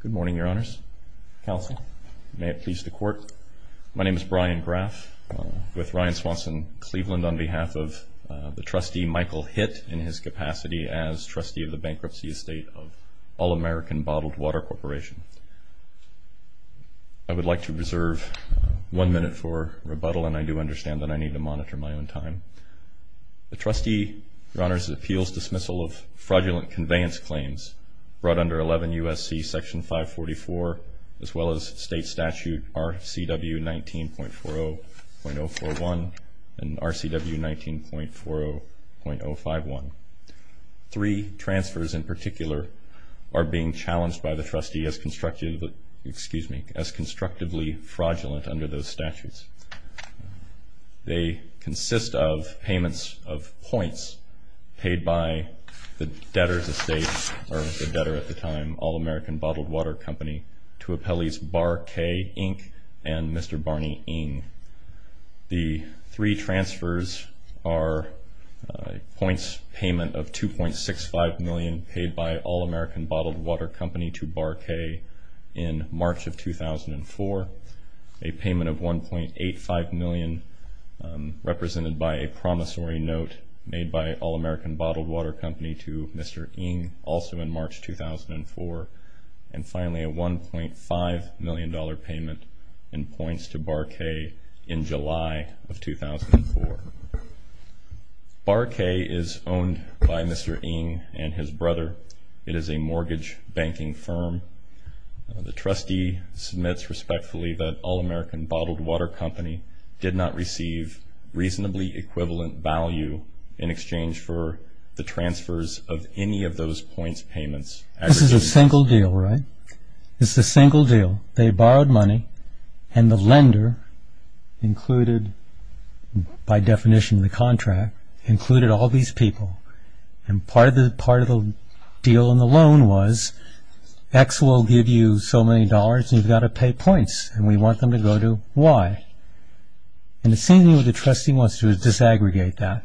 Good morning, Your Honors. Counsel, may it please the Court, my name is Brian Graff with Ryan Swanson Cleveland on behalf of the trustee Michael Hitt in his capacity as trustee of the Bankruptcy Estate of All American Bottled Water Corporation. I would like to reserve one minute for rebuttal and I do understand that I need to monitor my own time. The trustee, Your Honors, the appeals dismissal of fraudulent conveyance claims brought under 11 U.S.C. Section 544 as well as state statute R.C.W. 19.40.041 and R.C.W. 19.40.051. Three transfers in particular are being challenged by the trustee as constructively, excuse me, as constructively of points paid by the debtor's estate or the debtor at the time, All American Bottled Water Company, to appellees Bar K. Ng and Mr. Barney Ng. The three transfers are points payment of 2.65 million paid by All American Bottled Water Company to Bar K. in March of 2004, a payment of 1.85 million represented by a promissory note made by All American Bottled Water Company to Mr. Ng also in March 2004, and finally a 1.5 million dollar payment in points to Bar K. in July of 2004. Bar K. is owned by Mr. Ng and his brother. It is a mortgage banking firm. The trustee submits respectfully that All American Bottled Water Company did not receive reasonably equivalent value in exchange for the transfers of any of those points payments. This is a single deal, right? This is a single deal. They borrowed money and the lender included, by definition of the contract, included all these people and part of the deal in the loan was X will give you so many dollars and you've got to pay points and we want them to go to Y. And it seems to me what the trustee wants to do is disaggregate that.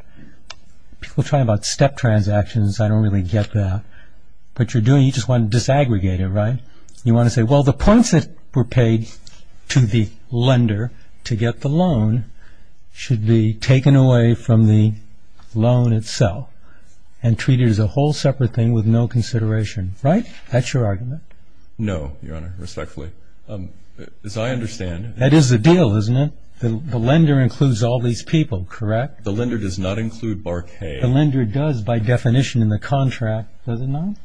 People talk about step transactions, I don't really get that. What you're doing, you just want to disaggregate it, right? You want to say, well the points that were paid to the lender to get the loan should be taken away from the loan itself and treated as a whole separate thing with no consideration, right? That's your argument? No, Your Honor, respectfully. As I understand it. That is the deal, isn't it? The lender includes all these people, correct? The lender does not include Bar K. The lender does, by definition in the contract, does it not?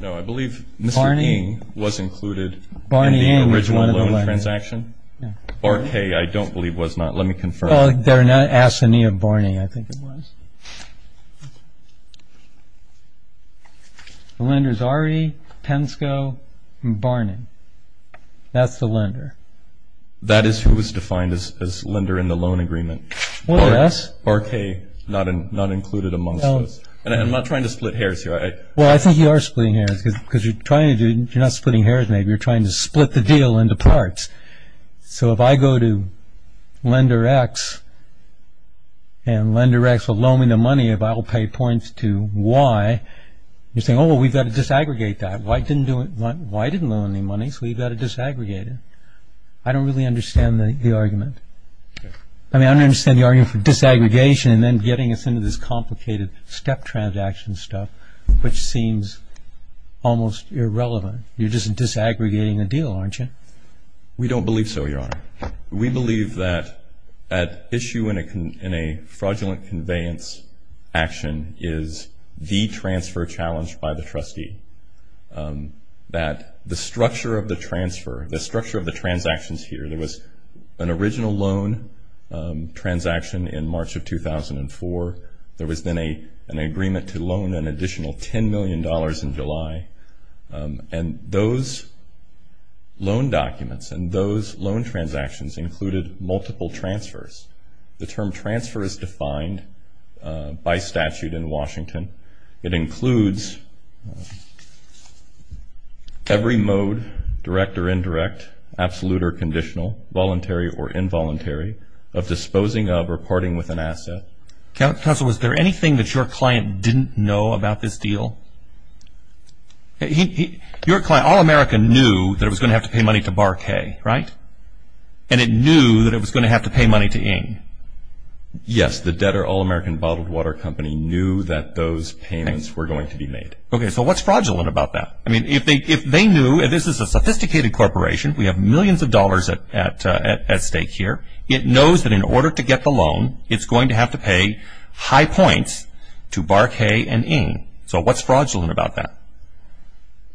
No, I believe Mr. Ng was included in the original loan transaction. Bar K., I don't believe was not. Let me confirm. They're not asking me of Barney, I think it was. The lender's Ari, Pensko, and Barney. That's the lender. That is who was defined as lender in the loan agreement. Bar K., not included amongst those. And I'm not trying to split hairs here. Well, I think you are splitting hairs because you're trying to do, you're not splitting hairs, you're trying to split the deal into parts. So if I go to lender X and lender X will loan me the money if I will pay points to Y, you're saying, oh, we've got to disaggregate that. Y didn't loan any money, so we've got to disaggregate it. I don't really understand the argument. I mean, I don't understand the argument for disaggregation and then getting us into this complicated step transaction stuff, which seems almost irrelevant. You're just disaggregating the deal, aren't you? We don't believe so, Your Honor. We believe that issue in a fraudulent conveyance action is the transfer challenge by the trustee. That the structure of the transfer, the structure of the transactions here, there was an original loan transaction in March of 2004. There was then an agreement to loan an additional $10 million in July. And those loan documents and those loan transactions included multiple transfers. The term transfer is defined by statute in Washington. It includes every mode, direct or indirect, absolute or conditional, voluntary or involuntary of disposing of or parting with an asset. Counselor, was there anything that your client didn't know about this deal? Your client, All American, knew that it was going to have to pay money to Bar K, right? And it knew that it was going to have to pay money to Ing. Yes, the debtor, All American Bottled Water Company, knew that those payments were going to be made. Okay, so what's fraudulent about that? I mean, if they knew, and this is a sophisticated corporation, we have millions of dollars at stake here. It knows that in order to get the loan, it's going to have to pay high points to Bar K and Ing. So what's fraudulent about that?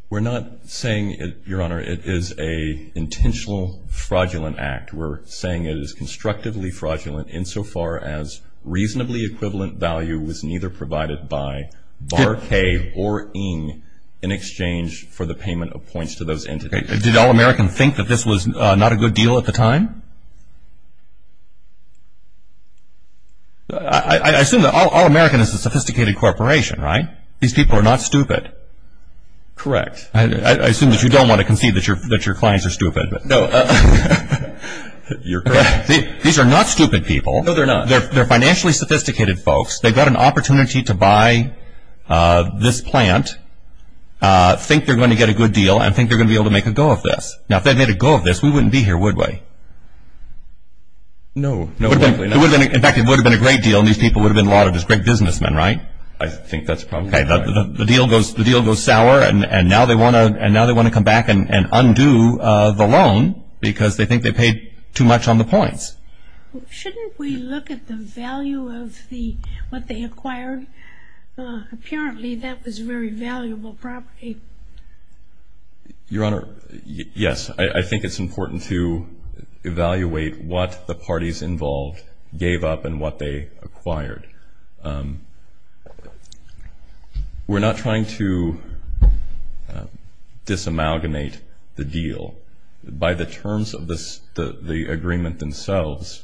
We're not saying, Your Honor, it is an intentional fraudulent act. We're saying it is constructively fraudulent insofar as reasonably equivalent value was neither provided by Bar K or Ing in exchange for the payment of points to those entities. Okay, did All American think that this was not a good deal at the time? I assume that All American is a sophisticated corporation, right? These people are not stupid. Correct. I assume that you don't want to concede that your clients are stupid. No, you're correct. These are not stupid people. No, they're not. They're financially sophisticated folks. They've got an opportunity to buy this plant, think they're going to get a good deal, and think they're going to be able to make a go of this. Now, if they made a go of this, we wouldn't be here, would we? No. In fact, it would have been a great deal, and these people would have been a lot of just great businessmen, right? I think that's probably right. Okay, the deal goes sour, and now they want to come back and undo the loan because they think they paid too much on the points. Shouldn't we look at the value of what they acquired? Apparently, that was very valuable property. Your Honor, yes, I think it's important to evaluate what the parties involved gave up and what they acquired. We're not trying to disamalgamate the deal. By the terms of the agreement themselves,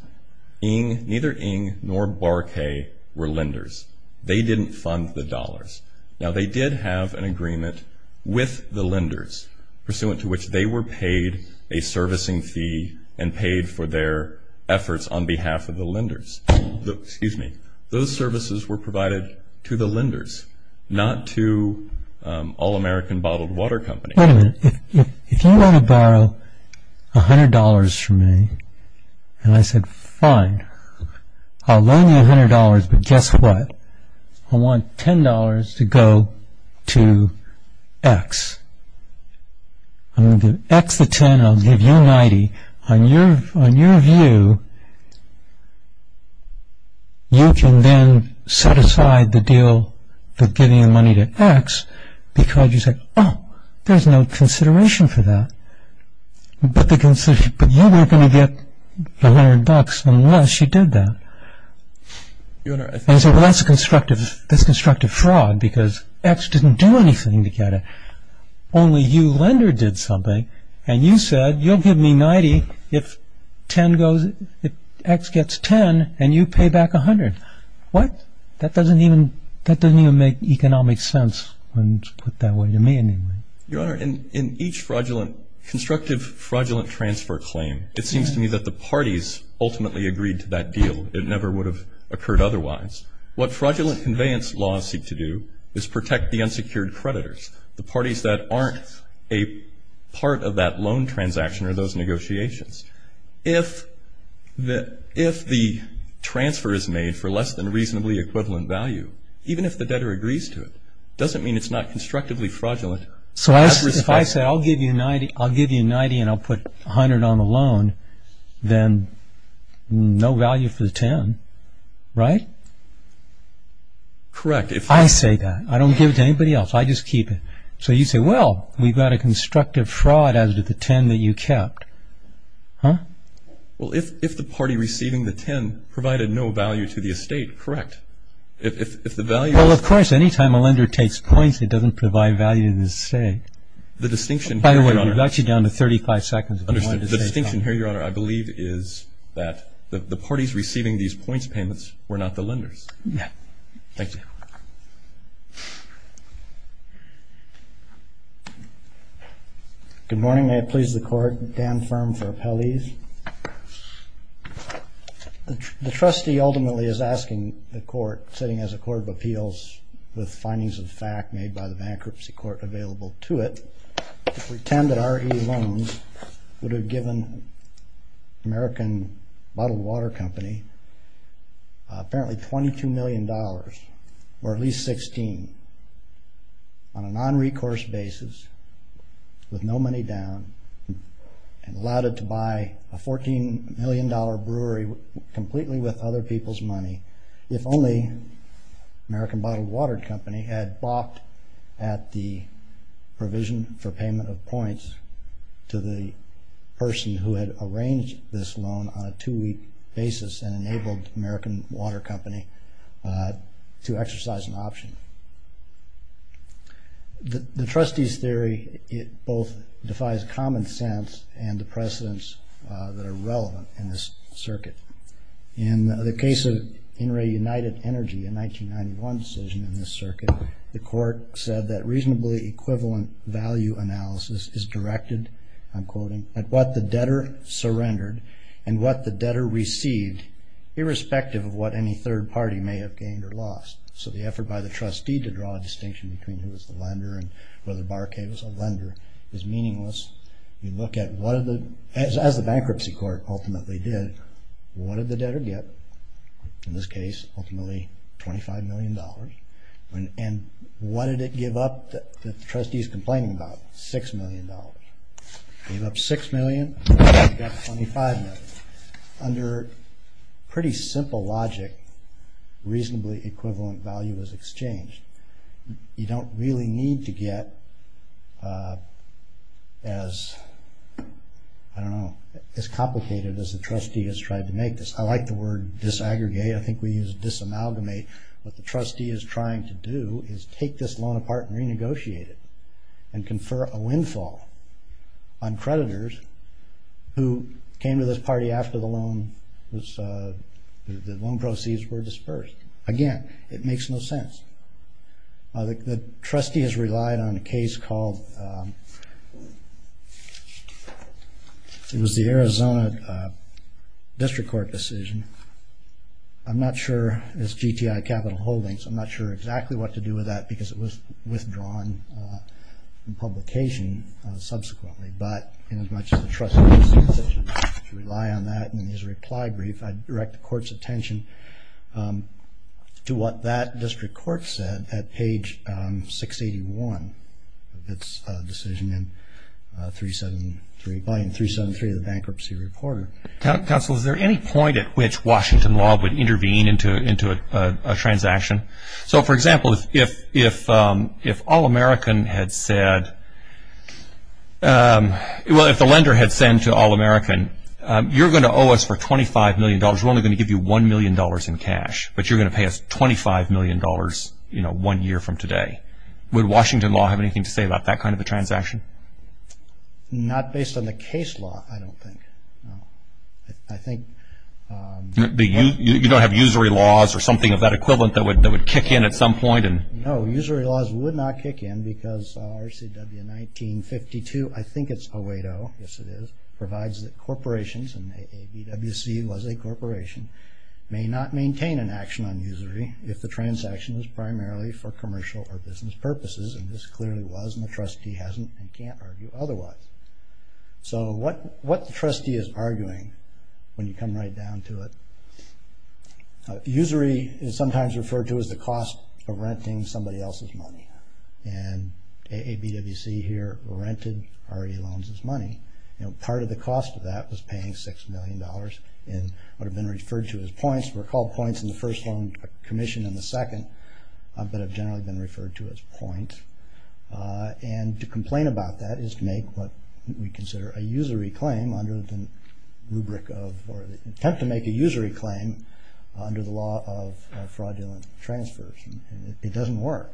neither Ng nor Barkay were lenders. They didn't fund the dollars. Now, they did have an agreement with the lenders pursuant to which they were paid a servicing fee and paid for their efforts on behalf of the lenders. Those services were provided to the lenders, not to All-American Bottled Water Company. Wait a minute. If you want to borrow $100 from me, and I said, fine, I'll loan you $100, but guess what? I want $10 to go to X. I'm going to give X the $10, and I'll give you $90. On your view, you can then set aside the deal of giving the money to X because you said, oh, there's no consideration for that. But you weren't going to get $100 unless you did that. That's constructive fraud because X didn't do anything to get it. Only you, lender, did something, and you said, you'll give me $90 if X gets $10, and you pay back $100. What? That doesn't even make economic sense when put that way to me, anyway. Your Honor, in each constructive fraudulent transfer claim, it seems to me that the parties ultimately agreed to that deal. It never would have occurred otherwise. What fraudulent conveyance laws seek to do is protect the unsecured creditors, the parties that aren't a part of that loan transaction or those negotiations. If the transfer is made for less than reasonably equivalent value, even if the debtor agrees to it, it doesn't mean it's not constructively fraudulent. So if I say, I'll give you $90, and I'll put $100 on the loan, then no value for the $10, right? Correct. I say that. I don't give it to anybody else. I just keep it. So you say, well, we've got a $10 that you kept. Huh? Well, if the party receiving the $10 provided no value to the estate, correct. If the value is... Well, of course, any time a lender takes points, it doesn't provide value to the estate. The distinction here, Your Honor... By the way, you're actually down to 35 seconds if you wanted to say something. Understood. The distinction here, Your Honor, I believe is that the parties receiving these points payments were not the lenders. Yeah. Thank you. Good morning. May it please the Court. Dan Firm for Appellees. The trustee ultimately is asking the Court, sitting as a Court of Appeals with findings of fact made by the bankruptcy court available to it, to pretend that RE loans would have given American Bottled Water Company apparently $22 million or at least $16 on a non-recourse basis with no money down and allowed it to buy a $14 million brewery completely with other people's money if only American Bottled Water Company had balked at the provision for payment of points to the person who had arranged this loan on a two-week basis and enabled American Water Company to exercise an option. The trustee's theory, it both defies common sense and the precedents that are relevant in this circuit. In the case of In re United Energy, a 1991 decision in this circuit, the Court said that reasonably equivalent value analysis is directed, I'm quoting, at what the debtor surrendered and what the debtor received, irrespective of what any third party may have gained or lost. So the effort by the trustee to draw a distinction between who was the lender and whether Baracay was a lender is meaningless. You look at what as the bankruptcy court ultimately did, what did the debtor get? In this case, ultimately $25 million. And what did it give up that the trustee is complaining about? $6 million. Gave up $6 million, got $25 million. Under pretty simple logic, reasonably equivalent value is exchanged. You don't really need to get as, I don't know, as complicated as the trustee has tried to make this. I like the word disaggregate. I think we use disamalgamate. What the trustee is trying to do is take this loan apart and renegotiate it and confer a windfall on creditors who came to this party after the loan was, the loan proceeds were dispersed. Again, it makes no sense. The trustee has relied on a case called, it was the Arizona District Court decision. I'm not sure, it's GTI Capital Holdings, I'm not sure exactly what to do with that because it was withdrawn in publication subsequently. But in as much as the trustee has to rely on that and there's a reply brief, I direct the its decision in 373 of the Bankruptcy Report. Counsel, is there any point at which Washington law would intervene into a transaction? So for example, if All-American had said, well if the lender had said to All-American, you're going to owe us for $25 million, we're only going to give you $1 million in cash, but you're going to pay us $25 million one year from today. Would Washington law have anything to say about that kind of a transaction? Not based on the case law, I don't think. You don't have usury laws or something of that equivalent that would kick in at some point? No, usury laws would not kick in because RCW 1952, I think it's 080, yes it is, provides that corporations, and the ABWC was a corporation, may not maintain an action on usury if the transaction is primarily for commercial or business purposes. And this clearly was, and the trustee hasn't and can't argue otherwise. So what the trustee is arguing, when you come right down to it, usury is sometimes referred to as the cost of renting somebody else's money. And AABWC here rented RE loans' money, and part of the cost of paying $6 million in what have been referred to as points, were called points in the first loan commission in the second, but have generally been referred to as points. And to complain about that is to make what we consider a usury claim under the rubric of, or attempt to make a usury claim under the law of fraudulent transfers. It doesn't work.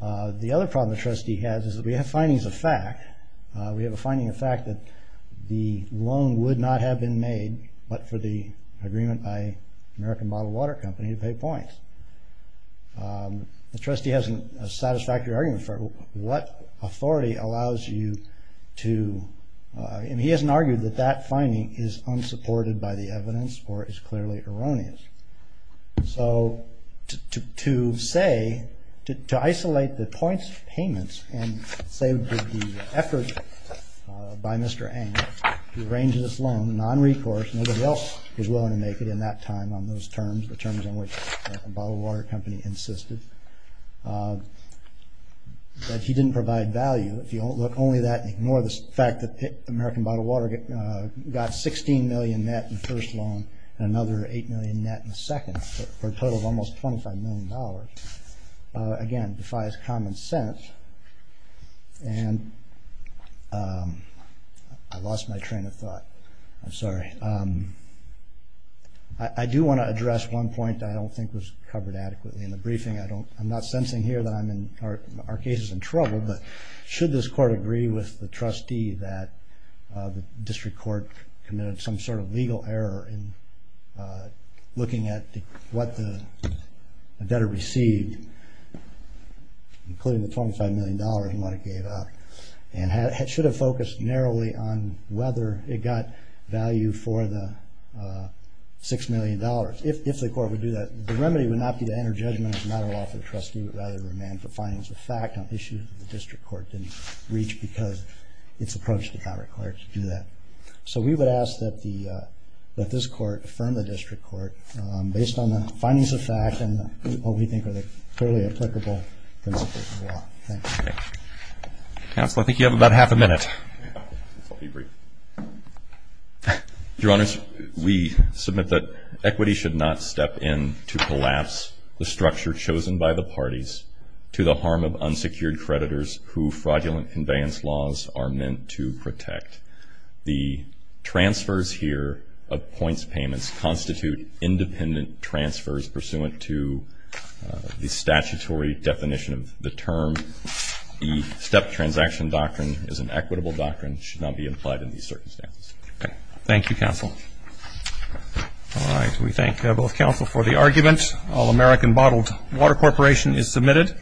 The other problem the trustee has is that we have a finding of fact that the loan would not have been made but for the agreement by American Bottled Water Company to pay points. The trustee has a satisfactory argument for what authority allows you to, and he hasn't argued that that finding is unsupported by the evidence or is by Mr. Ang. He arranges this loan non-recourse. Nobody else was willing to make it in that time on those terms, the terms on which American Bottled Water Company insisted. But he didn't provide value. If you look only at that and ignore the fact that American Bottled Water got $16 million net in the first loan and another $8 million net in the second, for a total of almost $25 million, again defies common sense. And I lost my train of thought. I'm sorry. I do want to address one point I don't think was covered adequately in the briefing. I don't, I'm not sensing here that I'm in, our case is in trouble, but should this court agree with the trustee that the district court committed some sort of legal error in looking at what the debtor received, including the $25 million and what it gave up, and should have focused narrowly on whether it got value for the $6 million. If the court would do that, the remedy would not be to enter judgment as a matter of law. The trustee would rather remand for findings of fact on issues the district court didn't reach because its approach did not require it to do that. So we would ask that this court affirm the district court based on the findings of fact and what we think are the clearly applicable principles of the law. Thank you. Counsel, I think you have about half a minute. Your Honors, we submit that equity should not step in to collapse the structure chosen by the parties to the harm of unsecured creditors who fraudulent conveyance laws are meant to protect. The transfers here of unsecured payments constitute independent transfers pursuant to the statutory definition of the term. The step transaction doctrine is an equitable doctrine and should not be applied in these circumstances. Thank you, Counsel. All right, we thank both Counsel for the argument. All American Bottled Water Corporation is submitted.